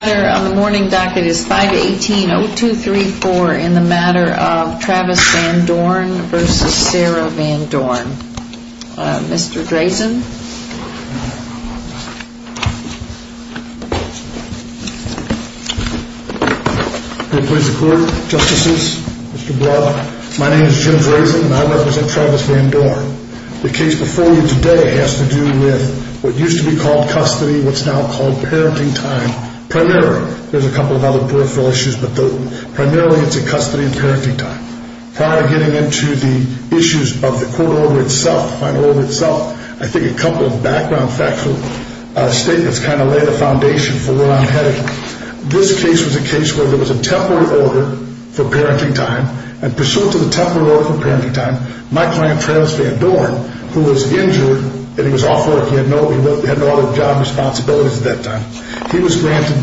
The matter on the morning docket is 518-0234 in the matter of Travis Van Dorn v. Sarah Van Dorn. Mr. Drazen. Good day to the court, Justices, Mr. Block. My name is Jim Drazen and I represent Travis Van Dorn. The case before you today has to do with what used to be called custody, what's now called parenting time, primarily. There's a couple of other peripheral issues, but primarily it's in custody and parenting time. Prior to getting into the issues of the court order itself, final order itself, I think a couple of background facts or statements kind of lay the foundation for where I'm headed. This case was a case where there was a temporary order for parenting time, and pursuant to the temporary order for parenting time, my client, Travis Van Dorn, who was injured and he was off work, he had no other job responsibilities at that time, he was granted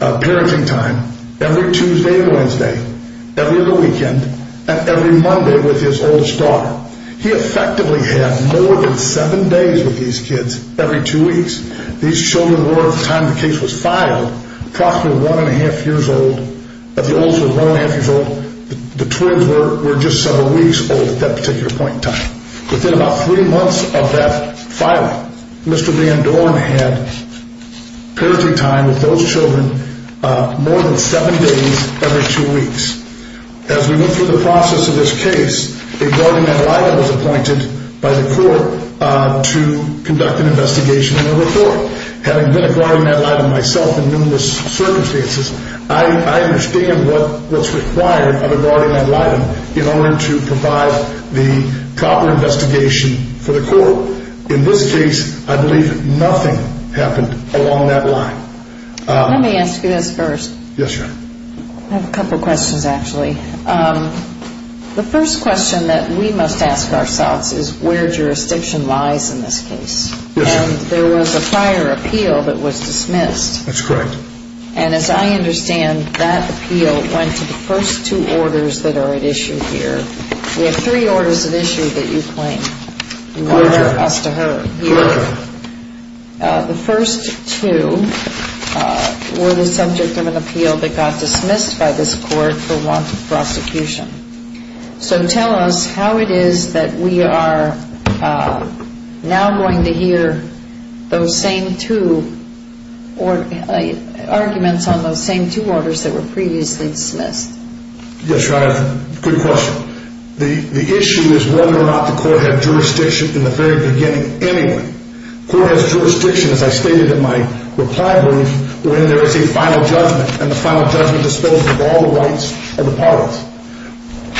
parenting time every Tuesday and Wednesday, every other weekend, and every Monday with his oldest daughter. He effectively had more than seven days with these kids every two weeks. These children were, at the time the case was filed, approximately one and a half years old. Of the olds who were one and a half years old, the twins were just several weeks old at that particular point in time. Within about three months of that filing, Mr. Van Dorn had parenting time with those children more than seven days every two weeks. As we went through the process of this case, a guardian ad litem was appointed by the court to conduct an investigation and a report. Having been a guardian ad litem myself in numerous circumstances, I understand what's required of a guardian ad litem in order to provide the proper investigation for the court. In this case, I believe nothing happened along that line. Let me ask you this first. Yes, Your Honor. I have a couple questions, actually. The first question that we must ask ourselves is where jurisdiction lies in this case. Yes, Your Honor. There was a prior appeal that was dismissed. That's correct. And as I understand, that appeal went to the first two orders that are at issue here. We have three orders at issue that you claim. Your Honor. The first two were the subject of an appeal that got dismissed by this court for want of prosecution. So tell us how it is that we are now going to hear those same two arguments on those same two orders that were previously dismissed. Yes, Your Honor. Good question. The issue is whether or not the court had jurisdiction in the very beginning anyway. The court has jurisdiction, as I stated in my reply brief, when there is a final judgment, and the final judgment disposes of all the rights or the powers.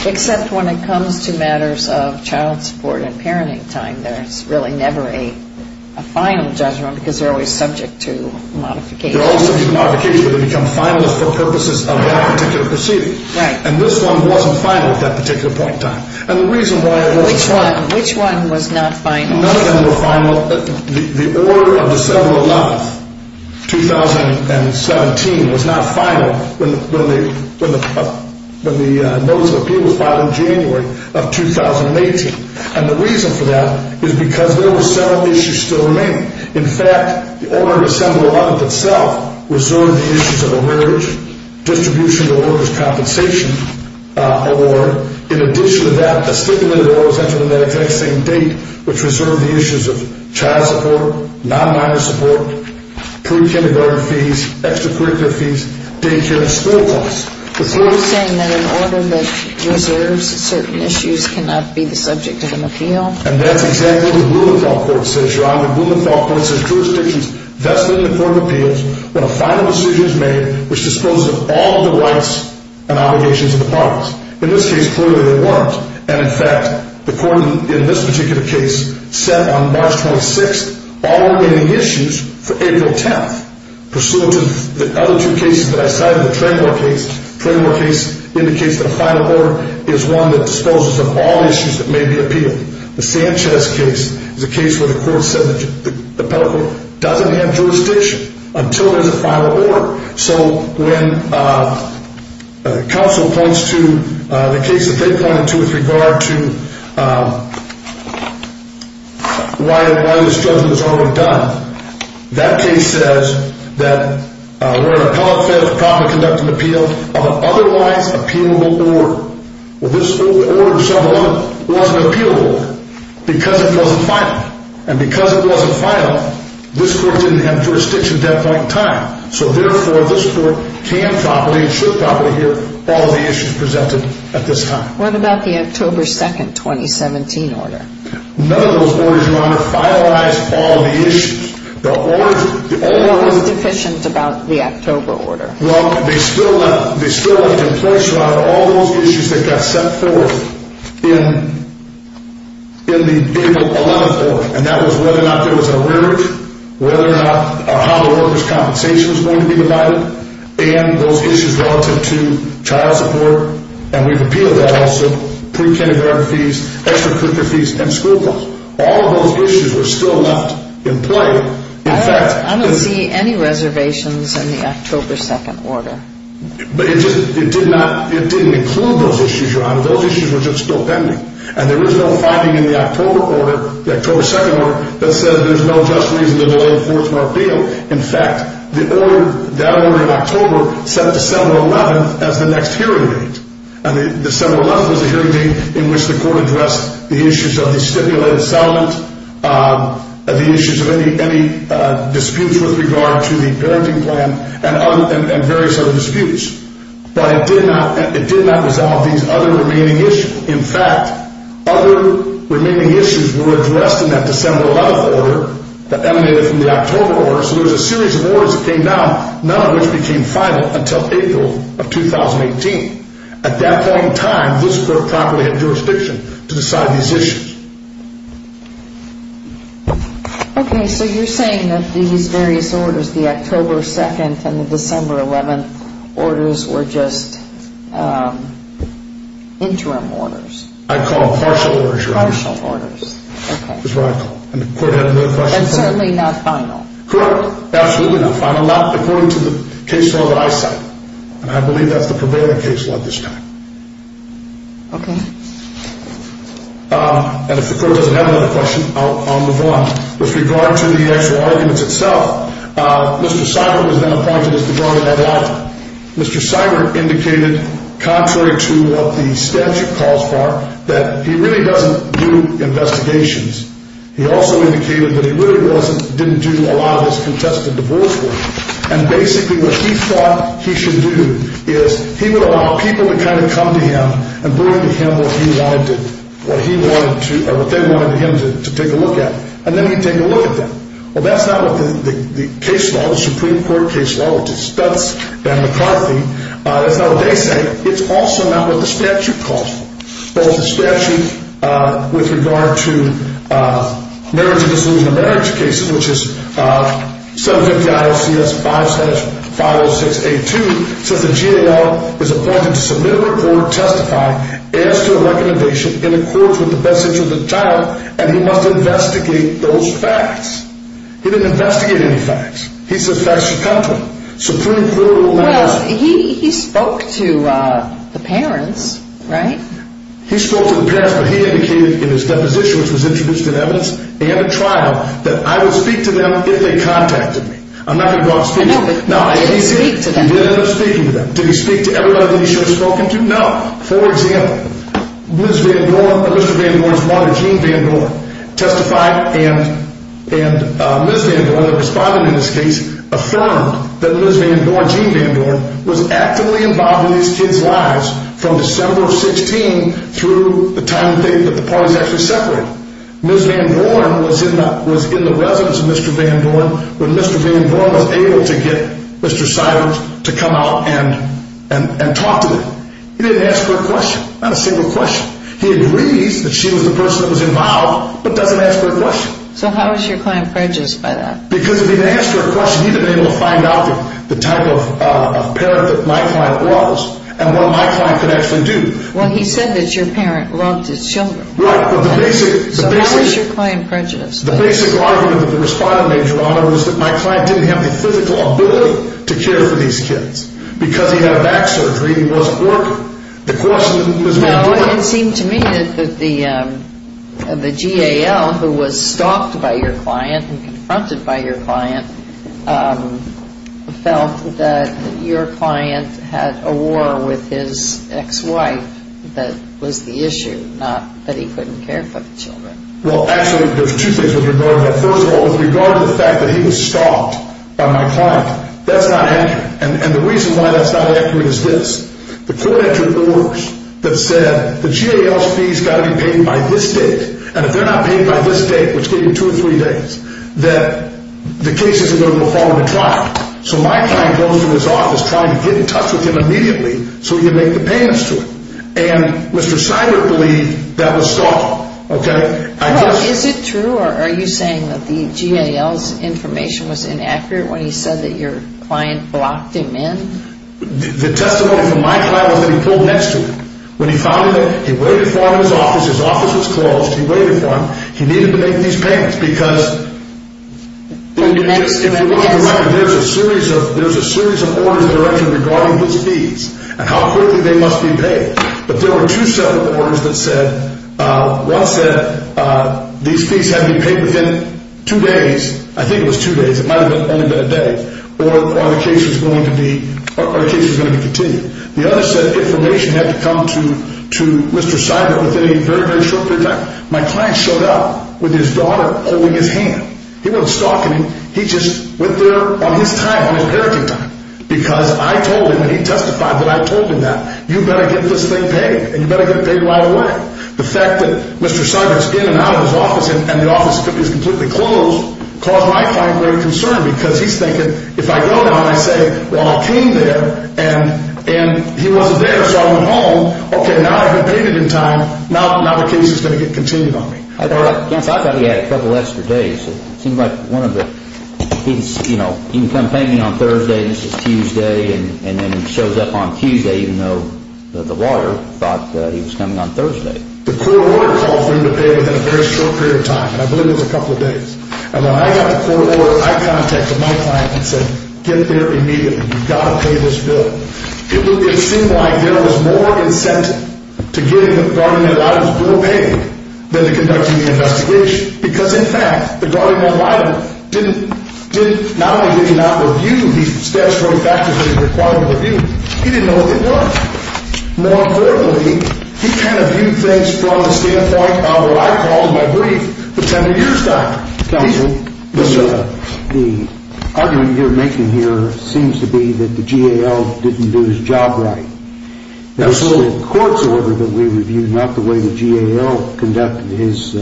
Except when it comes to matters of child support and parenting time, there's really never a final judgment because they're always subject to modification. They're always subject to modification, but they become finalist for purposes of that particular proceeding. Right. And this one wasn't final at that particular point in time. And the reason why it was final. Which one was not final? None of them were final. The order of December 11th, 2017, was not final when the notice of appeal was filed in January of 2018. And the reason for that is because there were several issues still remaining. In fact, the order of December 11th itself reserved the issues of average distribution to workers' compensation award. In addition to that, a stipulated order was entered on that exact same date, which reserved the issues of child support, non-minor support, pre-kindergarten fees, extracurricular fees, daycare and school costs. So you're saying that an order that reserves certain issues cannot be the subject of an appeal? And that's exactly what Blumenthal Court says, Your Honor. Blumenthal Court says jurisdiction is vested in the court of appeals when a final decision is made which disposes of all the rights and obligations of the parties. In this case, clearly they weren't. And, in fact, the court in this particular case set on March 26th all remaining issues for April 10th. Pursuant to the other two cases that I cited, the Tremor case, the Tremor case indicates that a final order is one that disposes of all issues that may be appealed. The Sanchez case is a case where the court said that the federal court doesn't have jurisdiction until there's a final order. So when counsel points to the case that they pointed to with regard to why this judgment was already done, that case says that where an appellate failed to conduct an appeal of an otherwise appealable order. Well, this order itself wasn't an appealable order because it wasn't final. And because it wasn't final, this court didn't have jurisdiction at that point in time. So, therefore, this court can properly and should properly hear all of the issues presented at this time. What about the October 2nd, 2017 order? None of those orders, Your Honor, finalized all of the issues. What was deficient about the October order? Well, they still left in place, Your Honor, all those issues that got set forth in the April 11th order. And that was whether or not there was a mortgage, how the workers' compensation was going to be divided, and those issues relative to child support. And we've appealed that also, pre-kindergarten fees, extracurricular fees, and school bills. All of those issues were still not in play. I don't see any reservations in the October 2nd order. But it didn't include those issues, Your Honor. Those issues were just still pending. And there is no finding in the October order, the October 2nd order, that says there's no just reason to delay the 4th of our appeal. In fact, that order in October set December 11th as the next hearing date. And December 11th was the hearing date in which the court addressed the issues of the stipulated settlement, the issues of any disputes with regard to the parenting plan, and various other disputes. But it did not resolve these other remaining issues. In fact, other remaining issues were addressed in that December 11th order that emanated from the October order. So there was a series of orders that came down, none of which became final until April of 2018. At that point in time, this court probably had jurisdiction to decide these issues. Okay, so you're saying that these various orders, the October 2nd and the December 11th orders, were just interim orders? I call partial orders, Your Honor. Partial orders. Okay. That's what I call them. And the court had another question for me. And certainly not final. Correct. Absolutely not final. Not according to the case law that I cite. And I believe that's the prevailing case law at this time. Okay. And if the court doesn't have another question, I'll move on. With regard to the actual arguments itself, Mr. Seiber was then appointed as the guard at that hour. Mr. Seiber indicated, contrary to what the statute calls for, that he really doesn't do investigations. He also indicated that he really didn't do a lot of his contested divorce work. And basically what he thought he should do is he would allow people to kind of come to him and bring to him what they wanted him to take a look at. And then he'd take a look at them. Well, that's not what the case law, the Supreme Court case law, which is Stutz v. McCarthy, that's not what they say. It's also not what the statute calls for. Well, the statute with regard to marriage and disillusionment of marriage cases, which is 750-ISCS-570-506-A2, says the GAL is appointed to submit a report, testify, add to a recommendation in accordance with the best interest of the child, and he must investigate those facts. He didn't investigate any facts. He said facts should come to him. Well, he spoke to the parents, right? He spoke to the parents, but he indicated in his deposition, which was introduced in evidence and a trial, that I would speak to them if they contacted me. I'm not going to go out and speak to them. No, but you did speak to them. I did end up speaking to them. Did he speak to everybody that he should have spoken to? No. For example, Ms. Van Dorn or Mr. Van Dorn's mother, Jean Van Dorn, testified, and Ms. Van Dorn, the respondent in this case, affirmed that Ms. Van Dorn, Jean Van Dorn, was actively involved in these kids' lives from December of 16 through the time that the parties actually separated. Ms. Van Dorn was in the residence of Mr. Van Dorn when Mr. Van Dorn was able to get Mr. Siders to come out and talk to them. He didn't ask her a question, not a single question. He agrees that she was the person that was involved, but doesn't ask her a question. So how is your client prejudiced by that? Because if he had asked her a question, he would have been able to find out the type of parent that my client was and what my client could actually do. Well, he said that your parent robbed his children. Right, but the basic… So how is your client prejudiced? The basic argument of the respondent, Your Honor, was that my client didn't have the physical ability to care for these kids. Because he had a back surgery, he wasn't working. The question is whether he was working. It seemed to me that the GAL, who was stalked by your client and confronted by your client, felt that your client had a war with his ex-wife that was the issue, not that he couldn't care for the children. Well, actually, there's two things with regard to that. First of all, with regard to the fact that he was stalked by my client, that's not happening. And the reason why that's not accurate is this. The court entered orders that said the GAL's fees got to be paid by this date. And if they're not paid by this date, which could be two or three days, that the case isn't going to go forward to trial. So my client goes to his office trying to get in touch with him immediately so he can make the payments to him. And Mr. Seidler believed that was stalking. Well, is it true or are you saying that the GAL's information was inaccurate when he said that your client blocked him in? The testimony from my client was that he pulled next to him. When he found him, he waited for him in his office. His office was closed. He waited for him. He needed to make these payments because there's a series of orders directed regarding his fees and how quickly they must be paid. But there were two separate orders that said, one said these fees had to be paid within two days. I think it was two days. It might have only been a day. Or the case was going to be continued. The other said information had to come to Mr. Seidler within a very, very short period of time. My client showed up with his daughter holding his hand. He wasn't stalking him. He just went there on his time, on his parenting time. Because I told him and he testified that I told him that. You better get this thing paid and you better get it paid right away. The fact that Mr. Seidler is in and out of his office and the office is completely closed caused my client great concern because he's thinking, if I go now and I say, well, I came there and he wasn't there so I went home. Okay, now I've been paid in time. Now the case is going to get continued on me. I thought he had a couple extra days. It seems like one of the things, you know, he can come pay me on Thursday and this is Tuesday and then he shows up on Tuesday even though the lawyer thought he was coming on Thursday. The court order called for him to pay within a very short period of time. I believe it was a couple of days. And when I got the court order, I contacted my client and said, get there immediately. You've got to pay this bill. It seemed like there was more incentive to get him to pardon his daughter's bill paid than to conduct any investigation. Because, in fact, the guardian ad litem not only did he not review these steps wrote back to him that required a review, he didn't know what they were. More clearly, he kind of viewed things from the standpoint of what I called my brief, pretending you're his doctor. Counsel, the argument you're making here seems to be that the GAL didn't do his job right. It was only the court's order that we reviewed, not the way the GAL conducted his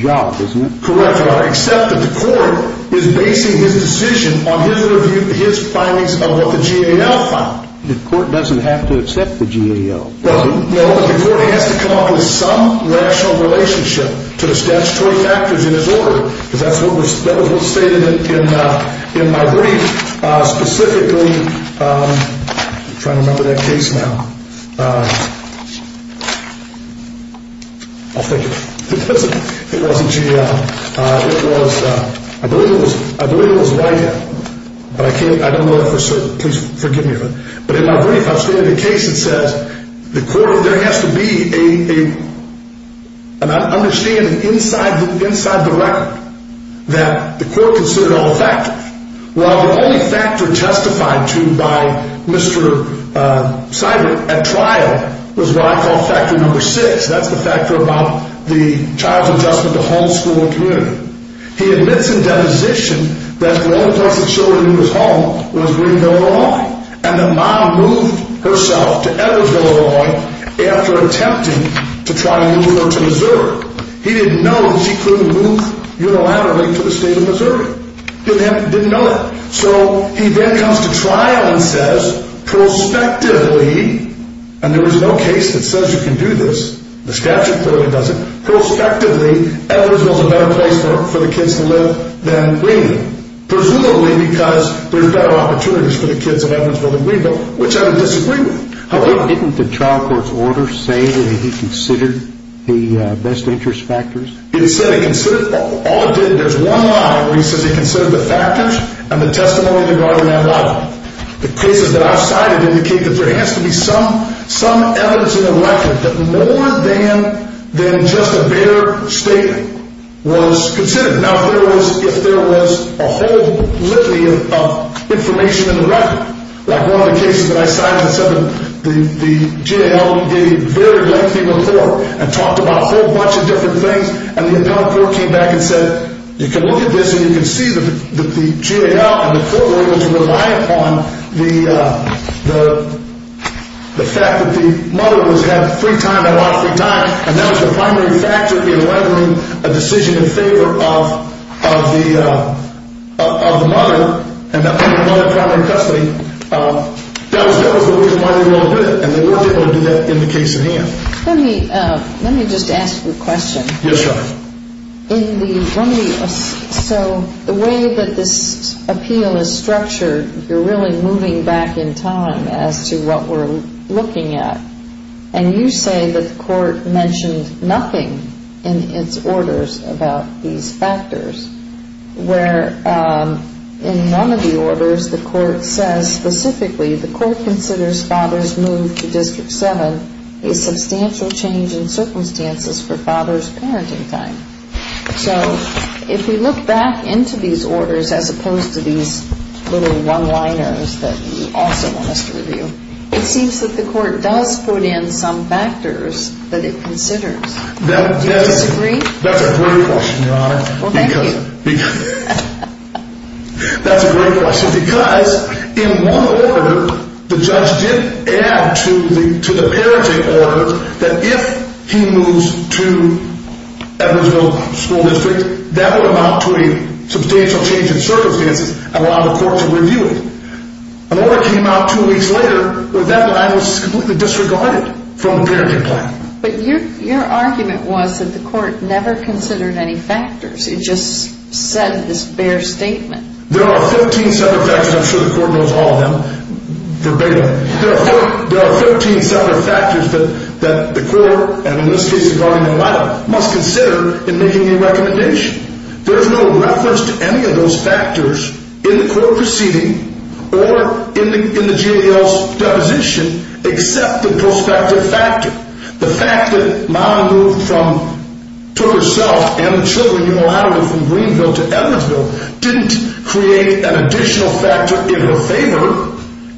job, isn't it? Correct. Except that the court is basing his decision on his findings of what the GAL found. The court doesn't have to accept the GAL. No, the court has to come up with some rational relationship to the statutory factors in his order. Because that's what was stated in my brief, specifically. I'm trying to remember that case now. I'll think of it. It wasn't GAL. It was, I believe it was White. But I can't, I don't know for certain. Please forgive me. But in my brief, I've stated a case that says there has to be an understanding inside the record that the court considered all factors. Well, the only factor testified to by Mr. Seidman at trial was what I call factor number six. That's the factor about the child's adjustment to home, school, and community. He admits in deposition that the only place the children knew was home was Greenville, Illinois. And that Mom moved herself to Edwardsville, Illinois after attempting to try to move her to Missouri. He didn't know that she couldn't move unilaterally to the state of Missouri. He didn't know that. So he then comes to trial and says, prospectively, and there is no case that says you can do this. The statute clearly doesn't. Prospectively, Edwardsville is a better place for the kids to live than Greenville. Presumably because there's better opportunities for the kids in Edwardsville than Greenville, which I would disagree with. Didn't the trial court's order say that he considered the best interest factors? It said he considered, all it did, there's one line where he says he considered the factors and the testimony regarding that line. The cases that I've cited indicate that there has to be some evidence in the record that more than just a bare statement was considered. Now, if there was a whole litany of information in the record, like one of the cases that I cited, the GAO gave a very lengthy report and talked about a whole bunch of different things. And the adult court came back and said, you can look at this and you can see that the GAO and the court were able to rely upon the fact that the mother was having a lot of free time. And that was the primary factor in lettering a decision in favor of the mother and the mother in primary custody. That was the reason why they were able to do it. And they were able to do that in the case at hand. Let me just ask you a question. Yes, Your Honor. So the way that this appeal is structured, you're really moving back in time as to what we're looking at. And you say that the court mentioned nothing in its orders about these factors, where in none of the orders the court says specifically the court considers father's move to District 7 a substantial change in circumstances for father's parenting time. So if we look back into these orders as opposed to these little one-liners that you also want us to review, it seems that the court does put in some factors that it considers. Do you disagree? That's a great question, Your Honor. Well, thank you. That's a great question because in one order the judge did add to the parenting order that if he moves to Edwardsville School District, that would amount to a substantial change in circumstances and allow the court to review it. An order came out two weeks later where that line was completely disregarded from the parenting plan. But your argument was that the court never considered any factors. It just said this bare statement. There are 13 separate factors. I'm sure the court knows all of them verbatim. There are 13 separate factors that the court, and in this case the guardian of my life, must consider in making a recommendation. There's no reference to any of those factors in the court proceeding or in the GAL's deposition except the prospective factor. The fact that Mama moved to herself and the children, you know how to move from Greenville to Edwardsville, didn't create an additional factor in her favor.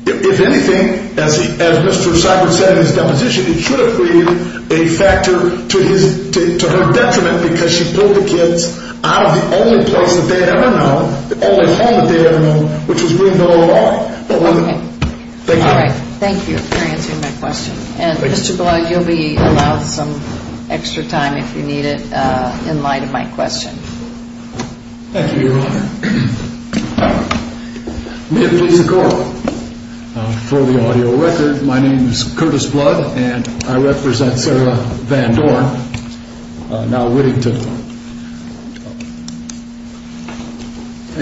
If anything, as Mr. Cybert said in his deposition, it should have created a factor to her detriment because she pulled the kids out of the only place that they'd ever known, the only home that they'd ever known, which was Greenville, Ohio. Okay. Thank you. Thank you for answering my question. And, Mr. Blood, you'll be allowed some extra time if you need it in light of my question. Thank you, Your Honor. May it please the Court. For the audio record, my name is Curtis Blood, and I represent Sarah Van Dorn, now Whittington.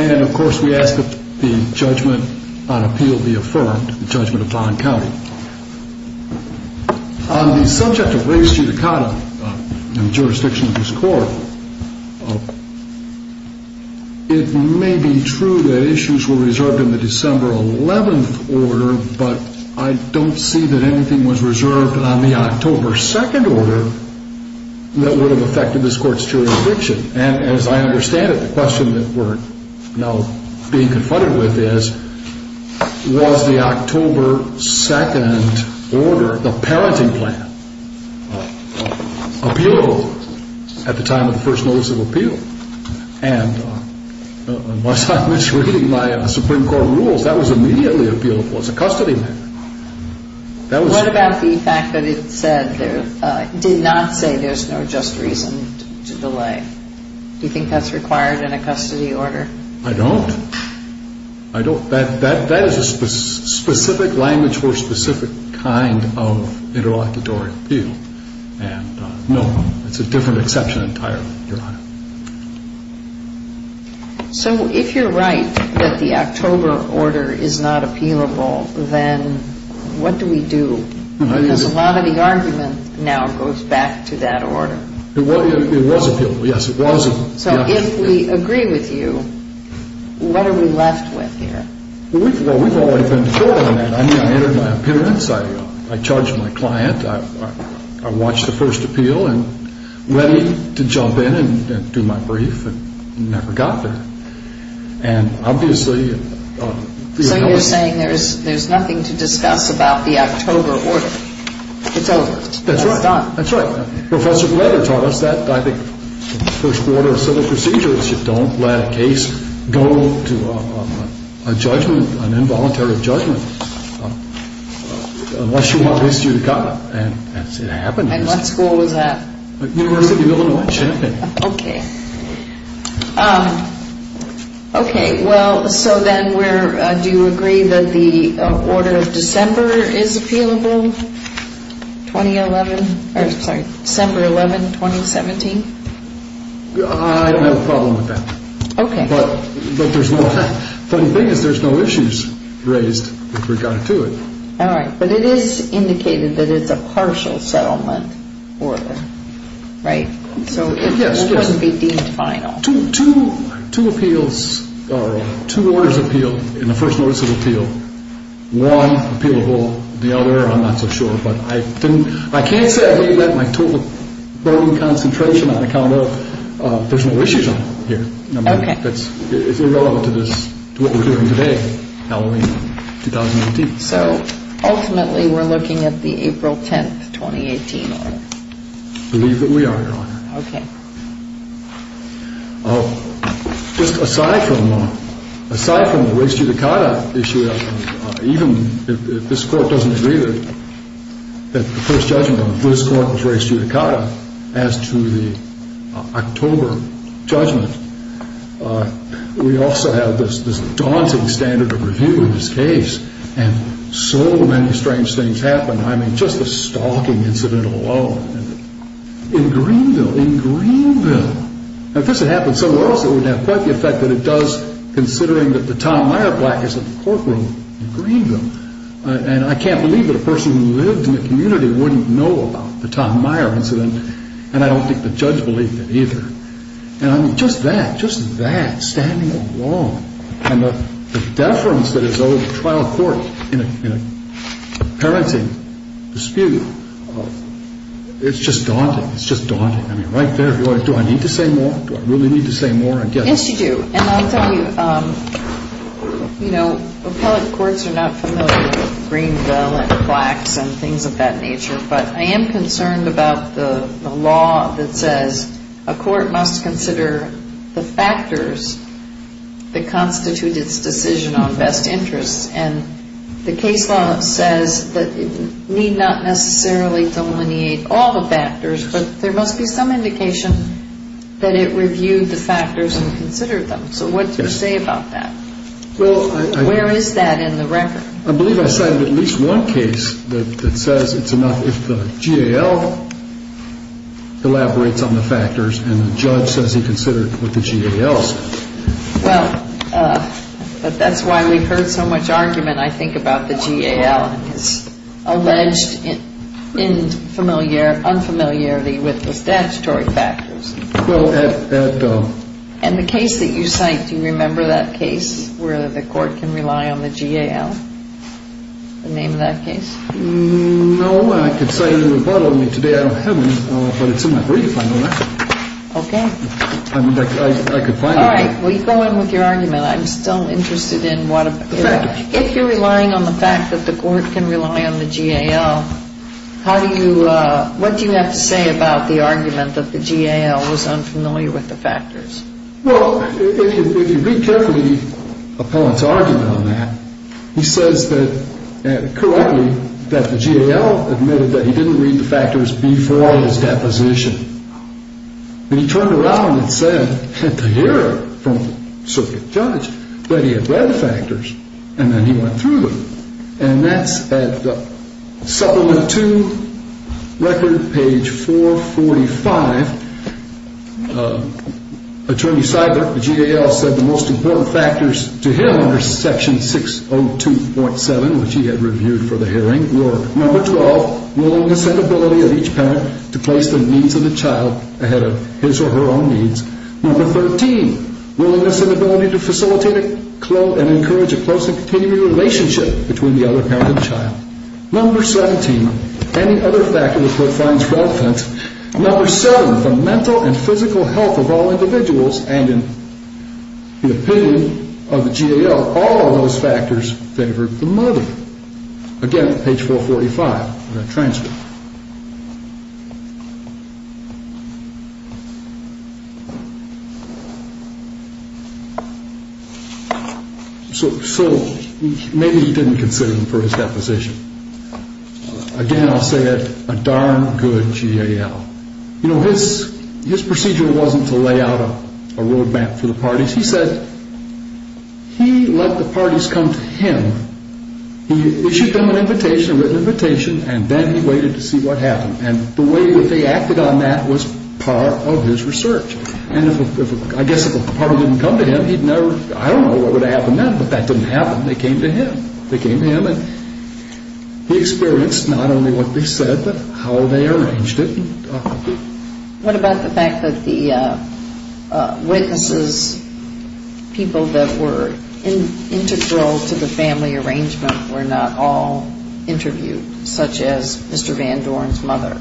And, of course, we ask that the judgment on appeal be affirmed, the judgment upon county. On the subject of race judicata in the jurisdiction of this Court, it may be true that issues were reserved in the December 11th order, but I don't see that anything was reserved on the October 2nd order that would have affected this Court's jurisdiction. And as I understand it, the question that we're now being confronted with is, was the October 2nd order, the parenting plan, appealable at the time of the first notice of appeal? And as I was reading my Supreme Court rules, that was immediately appealable as a custody matter. What about the fact that it did not say there's no just reason to delay? Do you think that's required in a custody order? I don't. I don't. That is a specific language for a specific kind of interlocutory appeal. And, no, it's a different exception entirely, Your Honor. So if you're right that the October order is not appealable, then what do we do? Because a lot of the argument now goes back to that order. It was appealable. Yes, it was appealable. So if we agree with you, what are we left with here? Well, we've already been through all that. I mean, I entered my appearance. I charged my client. I watched the first appeal and ready to jump in and do my brief and never got there. And, obviously, the annulment. So you're saying there's nothing to discuss about the October order. It's over. That's right. It's done. That's right. Professor Kleder taught us that, I think, in the first order of civil procedures, you don't let a case go to a judgment, an involuntary judgment, unless you want this judicata. And it happened. And what school was that? University of Illinois, Champaign. Okay. Okay. Well, so then do you agree that the order of December is appealable? 2011. Sorry. December 11, 2017. I don't have a problem with that. Okay. The funny thing is there's no issues raised with regard to it. All right. But it is indicated that it's a partial settlement order, right? Yes. So it wouldn't be deemed final. Two appeals or two orders appealed in the first notice of appeal. One appealable, the other I'm not so sure. But I can't say I really let my total burden of concentration on account of there's no issues on here. Okay. It's irrelevant to what we're doing today, Halloween 2019. So ultimately we're looking at the April 10, 2018 order. I believe that we are, Your Honor. Okay. Just aside from the raised judicata issue, even if this Court doesn't agree that the first judgment of this Court was raised judicata, as to the October judgment, we also have this daunting standard of review in this case. And so many strange things happen. I mean, just the stalking incident alone in Greenville, in Greenville. If this had happened somewhere else, it would have quite the effect that it does, considering that the Tom Meyer plaque is at the courtroom in Greenville. And I can't believe that a person who lived in the community wouldn't know about the Tom Meyer incident. And I don't think the judge believed it either. And, I mean, just that, just that, standing alone. And the deference that is owed to trial court in a parenting dispute, it's just daunting. It's just daunting. I mean, right there, do I need to say more? Do I really need to say more? Yes, you do. And I'll tell you, you know, appellate courts are not familiar with Greenville and plaques and things of that nature. But I am concerned about the law that says a court must consider the factors that constitute its decision on best interests. And the case law says that it need not necessarily delineate all the factors, but there must be some indication that it reviewed the factors and considered them. So what do you say about that? Where is that in the record? I believe I cited at least one case that says it's enough if the GAL elaborates on the factors and the judge says he considered what the GAL said. Well, that's why we've heard so much argument, I think, about the GAL and his alleged unfamiliarity with the statutory factors. And the case that you cite, do you remember that case where the court can rely on the GAL, the name of that case? No. I could cite it in the rebuttal. I mean, today I don't have one, but it's in my brief. I know that. Okay. I mean, I could find it. All right. Well, you go in with your argument. I'm still interested in what if you're relying on the fact that the court can rely on the GAL, what do you have to say about the argument that the GAL was unfamiliar with the factors? Well, if you read carefully Appellant's argument on that, he says correctly that the GAL admitted that he didn't read the factors before his deposition. And he turned around and said at the hearing from the circuit judge that he had read the factors, and then he went through them. And that's at Supplement 2, Record, page 445. Attorney Seidler, the GAL, said the most important factors to him under Section 602.7, which he had reviewed for the hearing, were number 12, willingness and ability of each parent to place the needs of the child ahead of his or her own needs. Number 13, willingness and ability to facilitate and encourage a close and continuing relationship between the other parent and child. Number 17, any other factor the court finds relevant. Number 7, the mental and physical health of all individuals. And in the opinion of the GAL, all of those factors favored the mother. Again, page 445 of that transcript. So maybe he didn't consider him for his deposition. Again, I'll say it, a darn good GAL. You know, his procedure wasn't to lay out a road map for the parties. He said he let the parties come to him. He issued them an invitation, a written invitation, and then he waited to see what happened. And the way that they acted on that was part of his research. And I guess if a party didn't come to him, he'd never, I don't know what would have happened then, but that didn't happen. They came to him. They came to him, and he experienced not only what they said, but how they arranged it. What about the fact that the witnesses, people that were integral to the family arrangement, were not all interviewed, such as Mr. Van Doren's mother?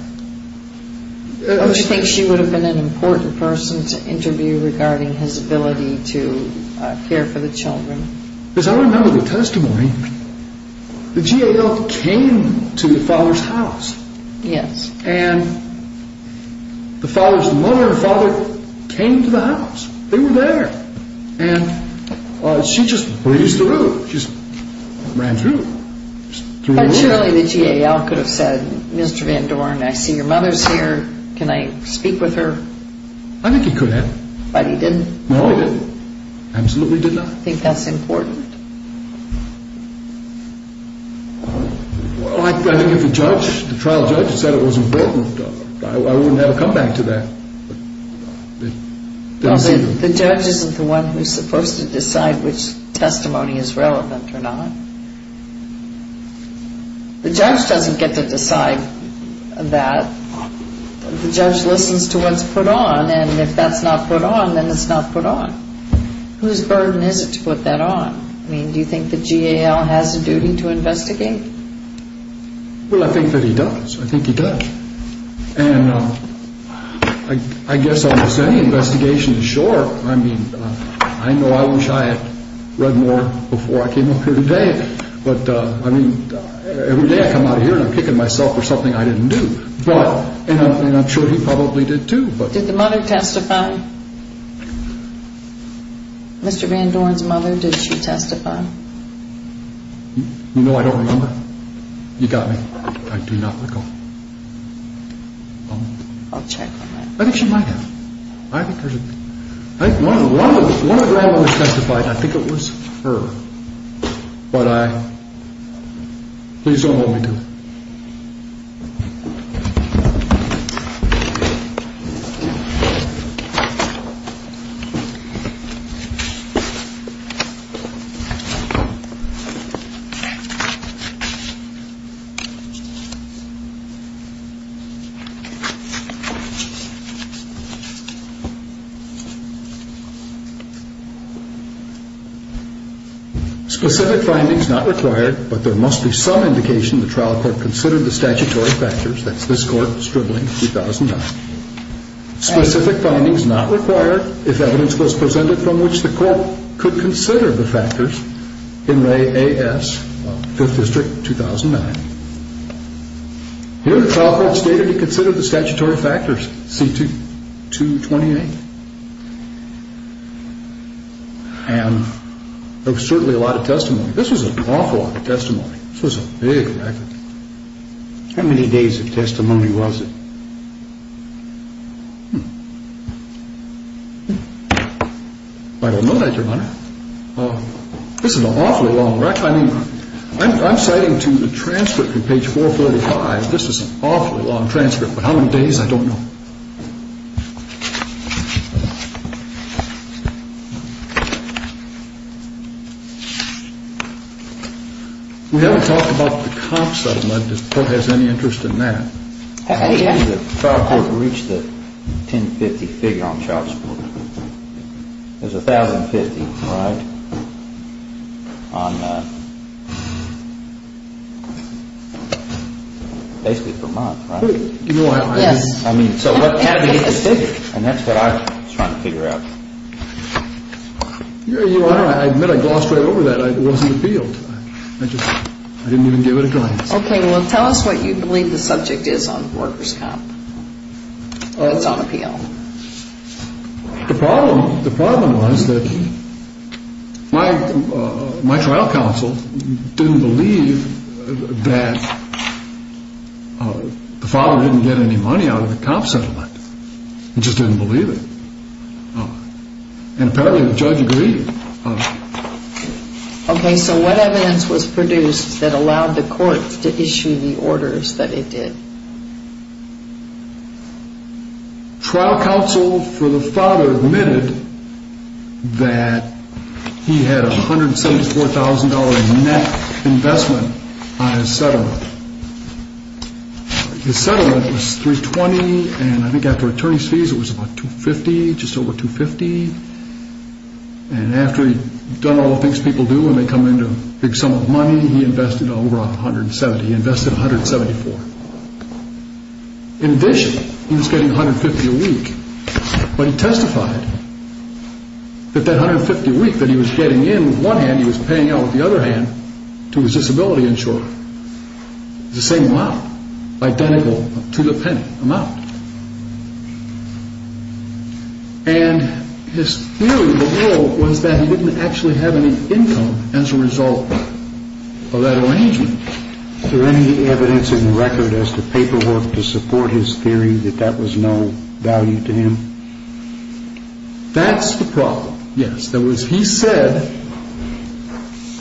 Don't you think she would have been an important person to interview regarding his ability to care for the children? Because I remember the testimony. The GAL came to the father's house. Yes. And the father's mother and father came to the house. They were there. And she just breezed through. She just ran through. But surely the GAL could have said, Mr. Van Doren, I see your mother's here. Can I speak with her? I think he could have. But he didn't. No, he didn't. Absolutely did not. Do you think that's important? I think if the trial judge said it was important, I wouldn't have a comeback to that. The judge isn't the one who's supposed to decide which testimony is relevant or not. The judge doesn't get to decide that. The judge listens to what's put on, and if that's not put on, then it's not put on. Whose burden is it to put that on? I mean, do you think the GAL has a duty to investigate? Well, I think that he does. I think he does. And I guess almost any investigation is sure. I mean, I know I wish I had read more before I came up here today. But, I mean, every day I come out here and I'm picking myself for something I didn't do. And I'm sure he probably did too. Did the mother testify? Mr. Van Dorn's mother, did she testify? You know I don't remember. You got me. I do not recall. I'll check on that. I think she might have. I think there's a, I think one of the women that testified, I think it was her. But I, please don't hold me to it. Specific findings not required, but there must be some indication the trial court considered the statutory factors. That's this court, Stribling, 2009. Specific findings not required if evidence was presented from which the court could consider the factors in Ray A.S., 5th District, 2009. Here the trial court stated it considered the statutory factors, C228. And there was certainly a lot of testimony. This was an awful lot of testimony. This was a big record. How many days of testimony was it? I don't know that, Your Honor. This is an awfully long record. I mean, I'm citing to the transcript from page 435. This is an awfully long transcript. But how many days, I don't know. We haven't talked about the comps that were mentioned. Does the court have any interest in that? How many days did the trial court reach the 1050 figure on child support? It was 1050, right? On basically per month, right? Yes. I mean, 1050 per month. And that's what I was trying to figure out. Your Honor, I admit I glossed right over that. I wasn't appealed. I didn't even give it a glance. Okay. Well, tell us what you believe the subject is on workers' comp, or what's on appeal. The problem was that my trial counsel didn't believe that the father didn't get any money out of the comp settlement. He just didn't believe it. And apparently the judge agreed. Okay, so what evidence was produced that allowed the court to issue the orders that it did? Trial counsel for the father admitted that he had a $174,000 net investment on his settlement. His settlement was $320,000, and I think after attorney's fees it was about $250,000, just over $250,000. And after he'd done all the things people do when they come into a big sum of money, he invested over $170,000. He invested $174,000. In addition, he was getting $150,000 a week. But he testified that that $150,000 a week that he was getting in with one hand, he was paying out with the other hand to his disability insurer. It was the same amount, identical to the penny amount. And his theory of the whole was that he didn't actually have any income as a result of that arrangement. Is there any evidence in the record as to paperwork to support his theory that that was no value to him? That's the problem, yes. He said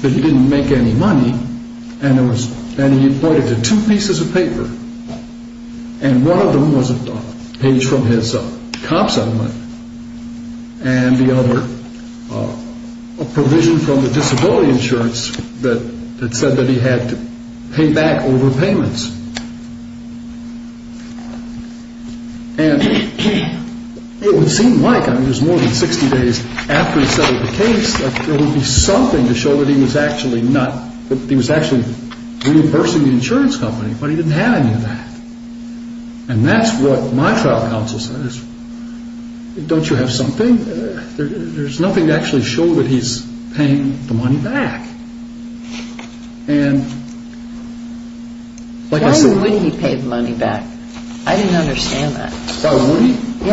that he didn't make any money, and he appointed to two pieces of paper. And one of them was a page from his comp settlement, and the other a provision from the disability insurance that said that he had to pay back over payments. And it would seem like, I mean, it was more than 60 days after he settled the case, that there would be something to show that he was actually reimbursing the insurance company, but he didn't have any of that. And that's what my trial counsel says. Don't you have something? There's nothing to actually show that he's paying the money back. Why would he pay the money back? I didn't understand that. Why would he? Yeah.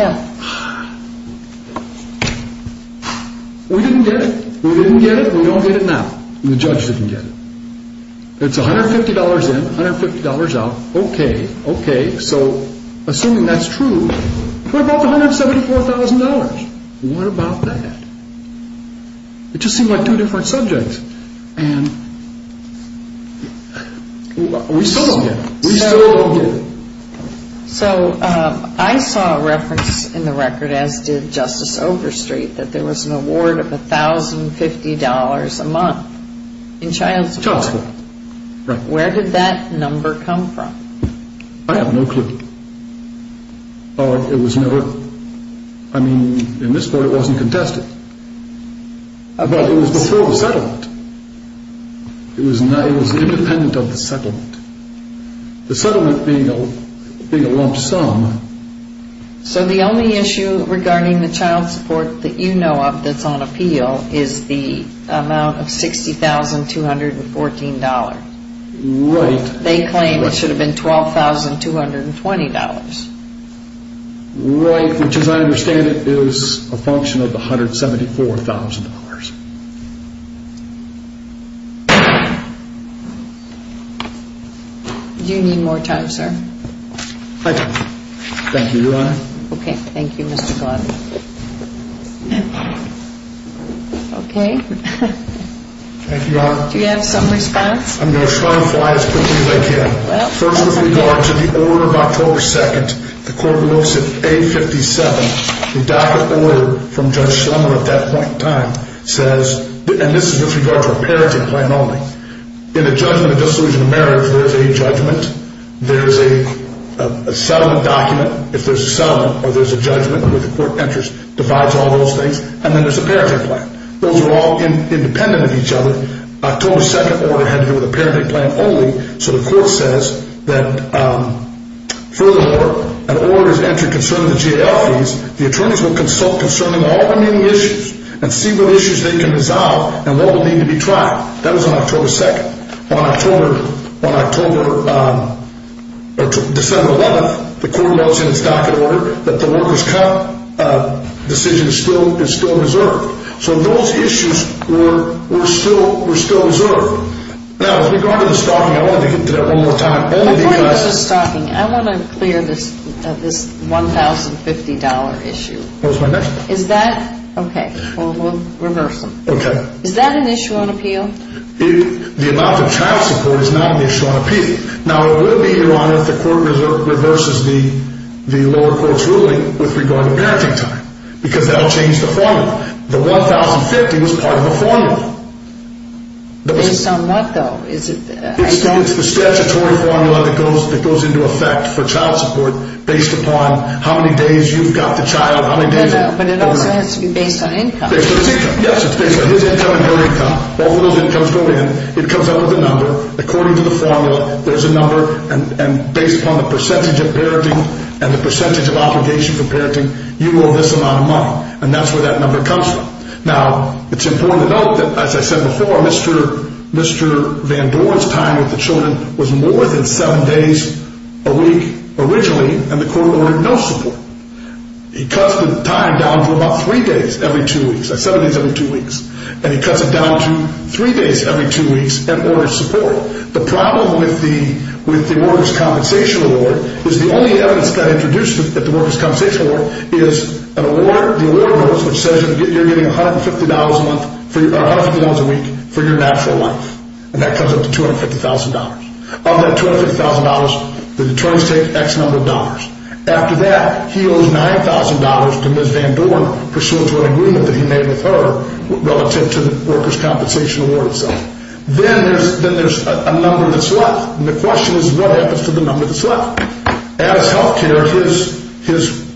We didn't get it. We didn't get it, and we don't get it now. The judge didn't get it. It's $150 in, $150 out. Okay, okay. So assuming that's true, what about the $174,000? What about that? It just seemed like two different subjects, and we still don't get it. We still don't get it. So I saw a reference in the record, as did Justice Overstreet, that there was an award of $1,050 a month in child support. Child support, right. Where did that number come from? I have no clue. It was never, I mean, in this court it wasn't contested. But it was before the settlement. It was independent of the settlement. The settlement being a lump sum. So the only issue regarding the child support that you know of that's on appeal is the amount of $60,214. Right. They claim it should have been $12,220. Right, which as I understand it is a function of the $174,000. Do you need more time, sir? I do. Thank you, Your Honor. Okay, thank you, Mr. Gladden. Okay. Thank you, Your Honor. Do you have some response? I'm going to try to fly as quickly as I can. First with regard to the order of October 2nd. The court notes in A57, the docket order from Judge Schlemmer at that point in time says, and this is with regard to a parenting plan only. In a judgment of dissolution of marriage, there's a judgment. There's a settlement document. If there's a settlement or there's a judgment where the court enters, divides all those things. And then there's a parenting plan. Those are all independent of each other. In October 2nd, the order had to do with a parenting plan only. So the court says that furthermore, an order is entered concerning the GAL fees. The attorneys will consult concerning all remaining issues and see what issues they can resolve and what will need to be tried. That was on October 2nd. On December 11th, the court notes in its docket order that the workers' comp decision is still reserved. So those issues were still reserved. Now, with regard to the stocking, I want to get to that one more time. My point was the stocking. I want to clear this $1,050 issue. What was my next point? Is that? Okay. Well, we'll reverse them. Okay. Is that an issue on appeal? The adoptive child support is not an issue on appeal. Now, it will be, Your Honor, if the court reverses the lower court's ruling with regard to parenting time because that will change the formula. The $1,050 was part of the formula. Based on what, though? It's the statutory formula that goes into effect for child support based upon how many days you've got the child. No, no. But it also has to be based on income. Based on his income. Yes, it's based on his income and her income. All of those incomes go in. It comes up with a number. According to the formula, there's a number. And that's where that number comes from. Now, it's important to note that, as I said before, Mr. Van Doren's time with the children was more than seven days a week originally, and the court ordered no support. It cuts the time down to about three days every two weeks. That's seven days every two weeks. And it cuts it down to three days every two weeks and orders support. The problem with the Workers' Compensation Award is the only evidence that's introduced at the Workers' Compensation Award is the award notice, which says you're getting $150 a week for your natural life. And that comes up to $250,000. On that $250,000, the attorneys take X number of dollars. After that, he owes $9,000 to Ms. Van Doren pursuant to an agreement that he made with her relative to the Workers' Compensation Award itself. Then there's a number that's left. And the question is, what happens to the number that's left? Addis Healthcare, his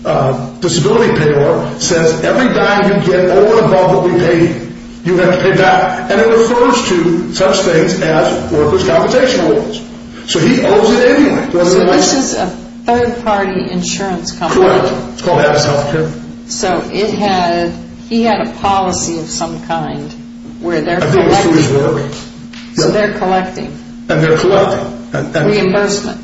disability payor, says every dime you get over and above what we pay you, you have to pay back. And it refers to such things as Workers' Compensation Awards. So he owes it anyway. So this is a third-party insurance company. Correct. It's called Addis Healthcare. So he had a policy of some kind where they're collecting reimbursement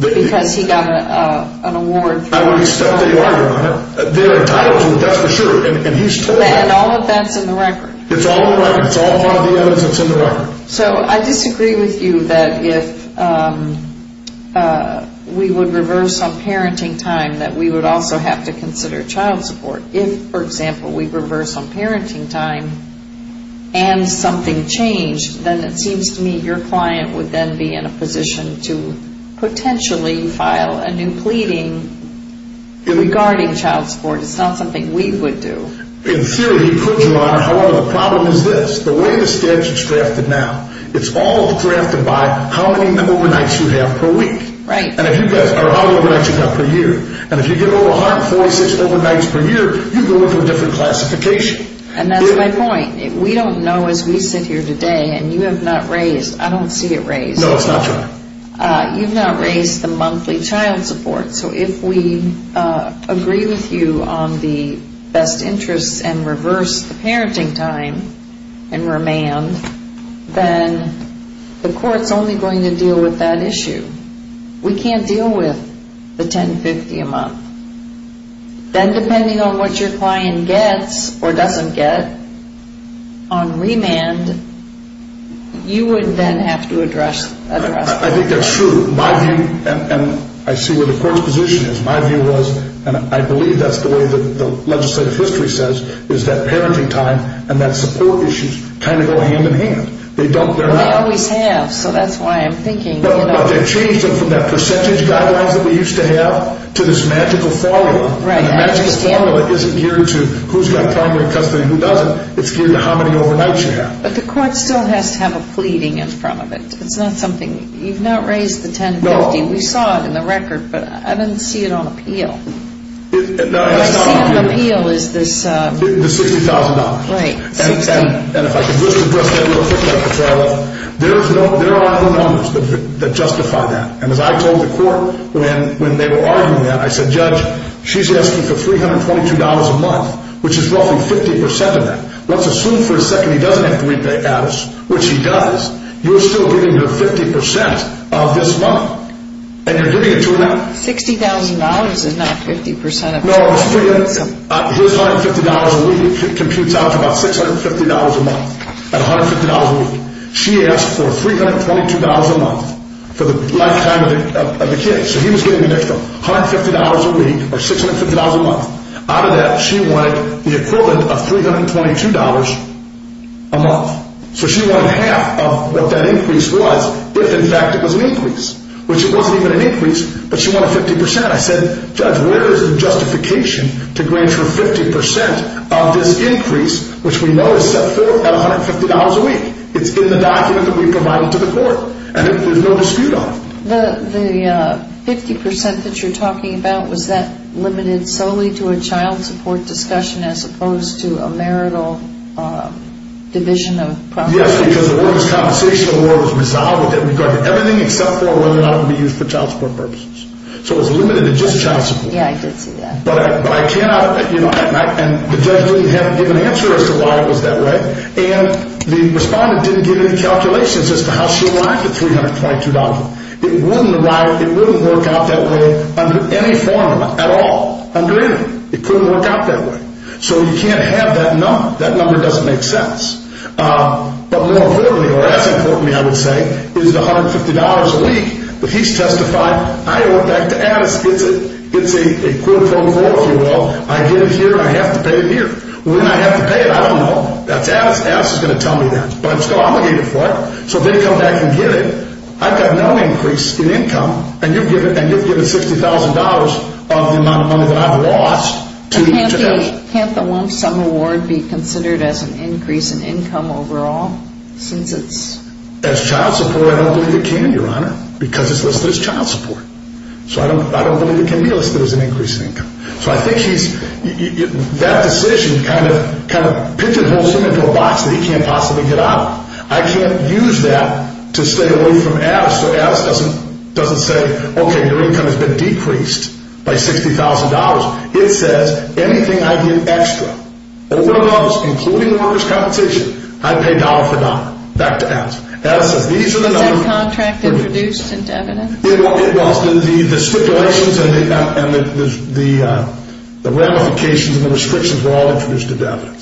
because he got an award for it. There are titles, that's for sure. And all of that's in the record. It's all in the record. It's all part of the evidence. It's in the record. So I disagree with you that if we would reverse on parenting time, that we would also have to consider child support. If, for example, we reverse on parenting time and something changed, then it seems to me your client would then be in a position to potentially file a new pleading regarding child support. It's not something we would do. In theory, he could, Your Honor. However, the problem is this. The way the statute's drafted now, it's all drafted by how many overnights you have per week. Right. Or how many overnights you've got per year. And if you get over 146 overnights per year, you go into a different classification. And that's my point. We don't know as we sit here today, and you have not raised, I don't see it raised. No, it's not, Your Honor. You've not raised the monthly child support. So if we agree with you on the best interests and reverse the parenting time and remand, then the court's only going to deal with that issue. We can't deal with the $10.50 a month. Then depending on what your client gets or doesn't get on remand, you would then have to address that. I think that's true. My view, and I see where the court's position is, my view was, and I believe that's the way the legislative history says, is that parenting time and that support issue kind of go hand in hand. They don't, they're not. Well, they always have, so that's why I'm thinking, you know. But they've changed them from that percentage guidelines that we used to have to this magical formula. Right. And the magical formula isn't geared to who's got primary custody and who doesn't. It's geared to how many overnights you have. But the court still has to have a pleading in front of it. It's not something, you've not raised the $10.50. No. We saw it in the record, but I didn't see it on appeal. No, that's not what I mean. What I see on appeal is this. The $60,000. Right, $60,000. And if I could just address that real quick, Dr. Farrell, there are other numbers that justify that. And as I told the court when they were arguing that, I said, Judge, she's asking for $322 a month, which is roughly 50% of that. Let's assume for a second he doesn't have three-day hours, which he does, you're still giving her 50% of this month. And you're giving it to her now. $60,000 is not 50% of that. No. Here's $150 a week. It computes out to about $650 a month at $150 a week. She asked for $322 a month for the lifetime of the kid. So he was getting an extra $150 a week or $650 a month. Out of that, she wanted the equivalent of $322 a month. So she wanted half of what that increase was if, in fact, it was an increase, which it wasn't even an increase, but she wanted 50%. I said, Judge, where is the justification to grant her 50% of this increase, which we know is set forth at $150 a week? It's in the document that we provided to the court. And there's no dispute on it. The 50% that you're talking about, was that limited solely to a child support discussion as opposed to a marital division of property? Yes, because the woman's compensation award was resolved with it regarding everything except for whether or not it would be used for child support purposes. So it was limited to just child support. Yeah, I did see that. But I cannot, you know, and the judge didn't have a given answer as to why it was that way. And the respondent didn't give any calculations as to how she arrived at $322 a month. It wouldn't work out that way under any formula at all. Under anything. It couldn't work out that way. So you can't have that number. That number doesn't make sense. But more importantly, or as importantly, I would say, is $150 a week. But he's testified, I owe it back to Addis. It's a quid pro quo, if you will. I get it here. I have to pay it here. When I have to pay it, I don't know. Addis is going to tell me that. But I'm still obligated for it. So if they come back and get it, I've got no increase in income. And you've given $60,000 of the amount of money that I've lost to them. Can't the lump sum award be considered as an increase in income overall since it's? As child support, I don't believe it can, Your Honor, because it's listed as child support. So I don't believe it can be listed as an increase in income. So I think she's, that decision kind of pitches the whole thing into a box that he can't possibly get out of. I can't use that to stay away from Addis. So Addis doesn't say, okay, your income has been decreased by $60,000. It says anything I do extra, all of those, including the workers' compensation, I pay dollar for dollar. Back to Addis. Addis says these are the numbers. Was that contract introduced into evidence? It was. The stipulations and the ramifications and the restrictions were all introduced into evidence.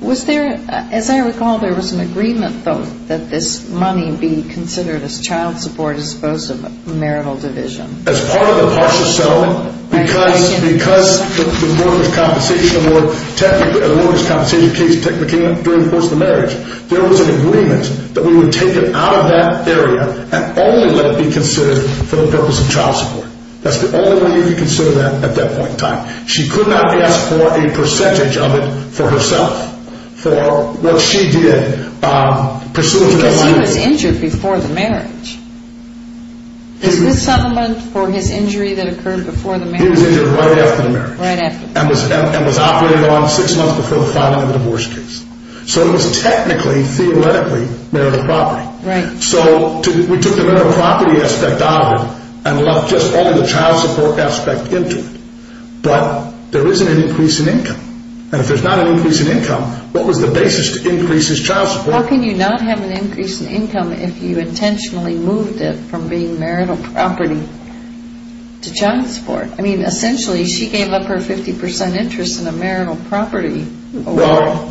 Was there, as I recall, there was an agreement, though, that this money be considered as child support as opposed to marital division. As part of the partial settlement because the workers' compensation case technically came up during the course of the marriage. There was an agreement that we would take it out of that area and only let it be considered for the purpose of child support. That's the only way you could consider that at that point in time. She could not ask for a percentage of it for herself, for what she did pursuant to that money. Because he was injured before the marriage. Is this settlement for his injury that occurred before the marriage? He was injured right after the marriage. Right after the marriage. And was operating on six months before the filing of the divorce case. So it was technically, theoretically, marital property. Right. So we took the marital property aspect out of it and left just only the child support aspect into it. But there isn't an increase in income. And if there's not an increase in income, what was the basis to increase his child support? How can you not have an increase in income if you intentionally moved it from being marital property to child support? I mean, essentially, she gave up her 50% interest in a marital property award. Well,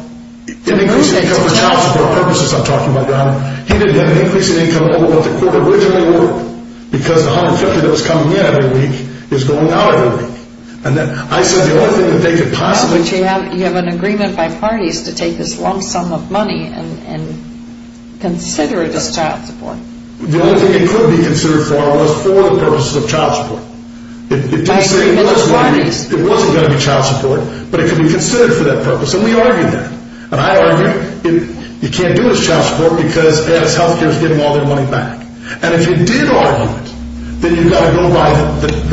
an increase in income for child support purposes, I'm talking about, he didn't have an increase in income over what the quote originally were. Because the 150 that was coming in every week is going out every week. And I said the only thing that they could possibly do. But you have an agreement by parties to take this long sum of money and consider it as child support. The only thing it could be considered for was for the purposes of child support. By three million parties. It wasn't going to be child support. But it could be considered for that purpose. And we argued that. And I argued you can't do it as child support because it adds health care to getting all their money back. And if you did argue it, then you've got to go by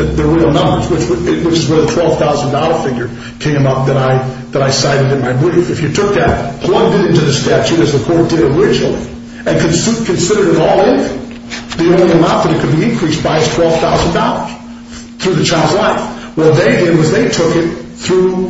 the real numbers, which is where the $12,000 figure came up that I cited in my brief. If you took that, plugged it into the statute as the court did originally, and considered it all income, the only amount that it could be increased by is $12,000 through the child's life. Well, what they did was they took it through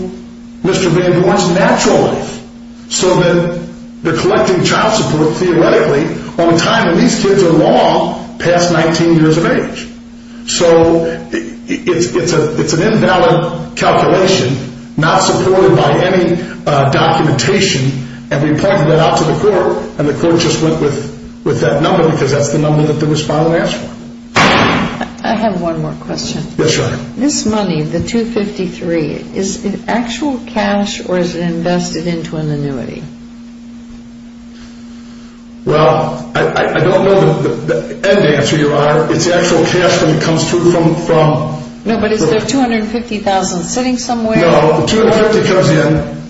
Mr. Van Boren's natural life. So then they're collecting child support theoretically on a time when these kids are long past 19 years of age. So it's an invalid calculation, not supported by any documentation. And we pointed that out to the court, and the court just went with that number because that's the number that the respondent asked for. I have one more question. Yes, Your Honor. This money, the $253,000, is it actual cash or is it invested into an annuity? Well, I don't know the end answer, Your Honor. It's actual cash when it comes through from the… No, but is the $250,000 sitting somewhere? No, the $250,000 comes in.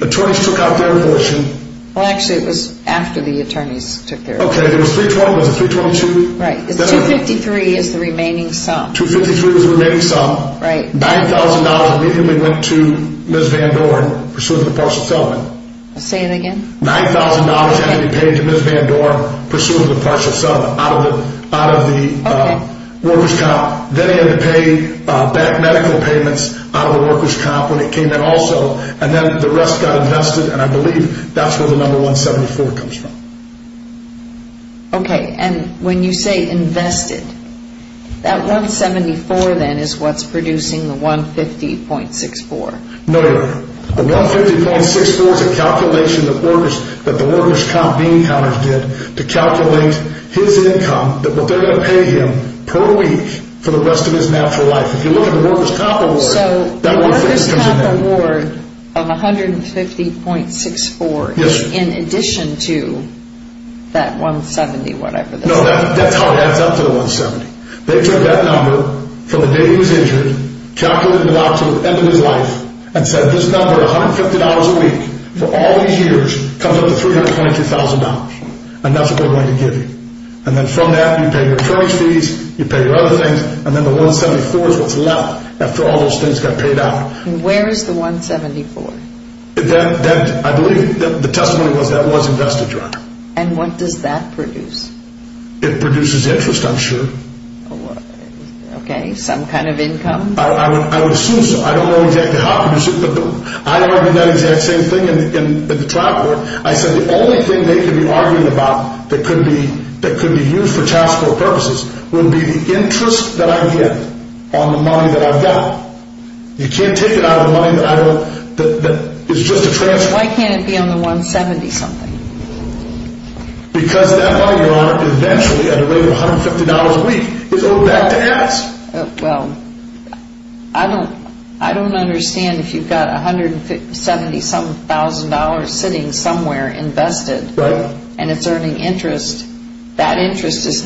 The attorneys took out their version. Well, actually, it was after the attorneys took their version. Okay, it was $320,000. Was it $322,000? Right. The $253,000 is the remaining sum. $253,000 was the remaining sum. $9,000 immediately went to Ms. Vandoren pursuing the partial settlement. Say it again. $9,000 had to be paid to Ms. Vandoren pursuing the partial settlement out of the workers' comp. Then they had to pay back medical payments out of the workers' comp when it came in also, and then the rest got invested, and I believe that's where the number 174 comes from. Okay, and when you say invested, that 174 then is what's producing the 150.64. No, Your Honor. The 150.64 is a calculation that the workers' comp bean counters did to calculate his income, that what they're going to pay him per week for the rest of his natural life. If you look at the workers' comp award… Yes. No, that's how it adds up to the 170. They took that number from the day he was injured, calculated it out to the end of his life, and said this number, $150 a week for all these years, comes up to $322,000, and that's what they're going to give you. And then from that, you pay your insurance fees, you pay your other things, and then the 174 is what's left after all those things got paid out. Where is the 174? That, I believe, the testimony was that was invested, Your Honor. And what does that produce? It produces interest, I'm sure. Okay, some kind of income? I would assume so. I don't know exactly how it produces it, but I argued that exact same thing in the trial court. I said the only thing they could be arguing about that could be used for taxable purposes would be the interest that I get on the money that I've got. You can't take it out of the money that is just a transfer. Why can't it be on the 170-something? Because that money, Your Honor, eventually, at a rate of $150 a week, is owed back to Addis. Well, I don't understand if you've got $170,000 sitting somewhere invested, and it's earning interest. Correct. The interest isn't.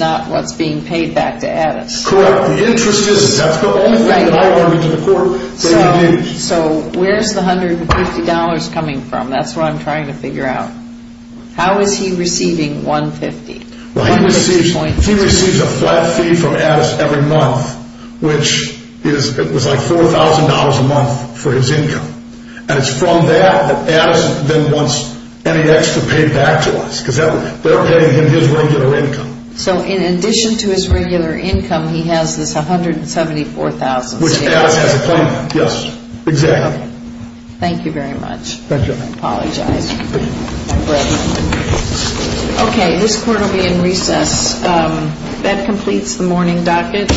That's the only thing that I argued in the court. So where's the $150 coming from? That's what I'm trying to figure out. How is he receiving $150? He receives a flat fee from Addis every month, which is like $4,000 a month for his income. And it's from that that Addis then wants NEX to pay back to us, because they're paying him his regular income. So in addition to his regular income, he has this $174,000. Which Addis has a claim on, yes. Exactly. Thank you very much. Thank you. I apologize. Thank you. Okay, this court will be in recess. That completes the morning docket.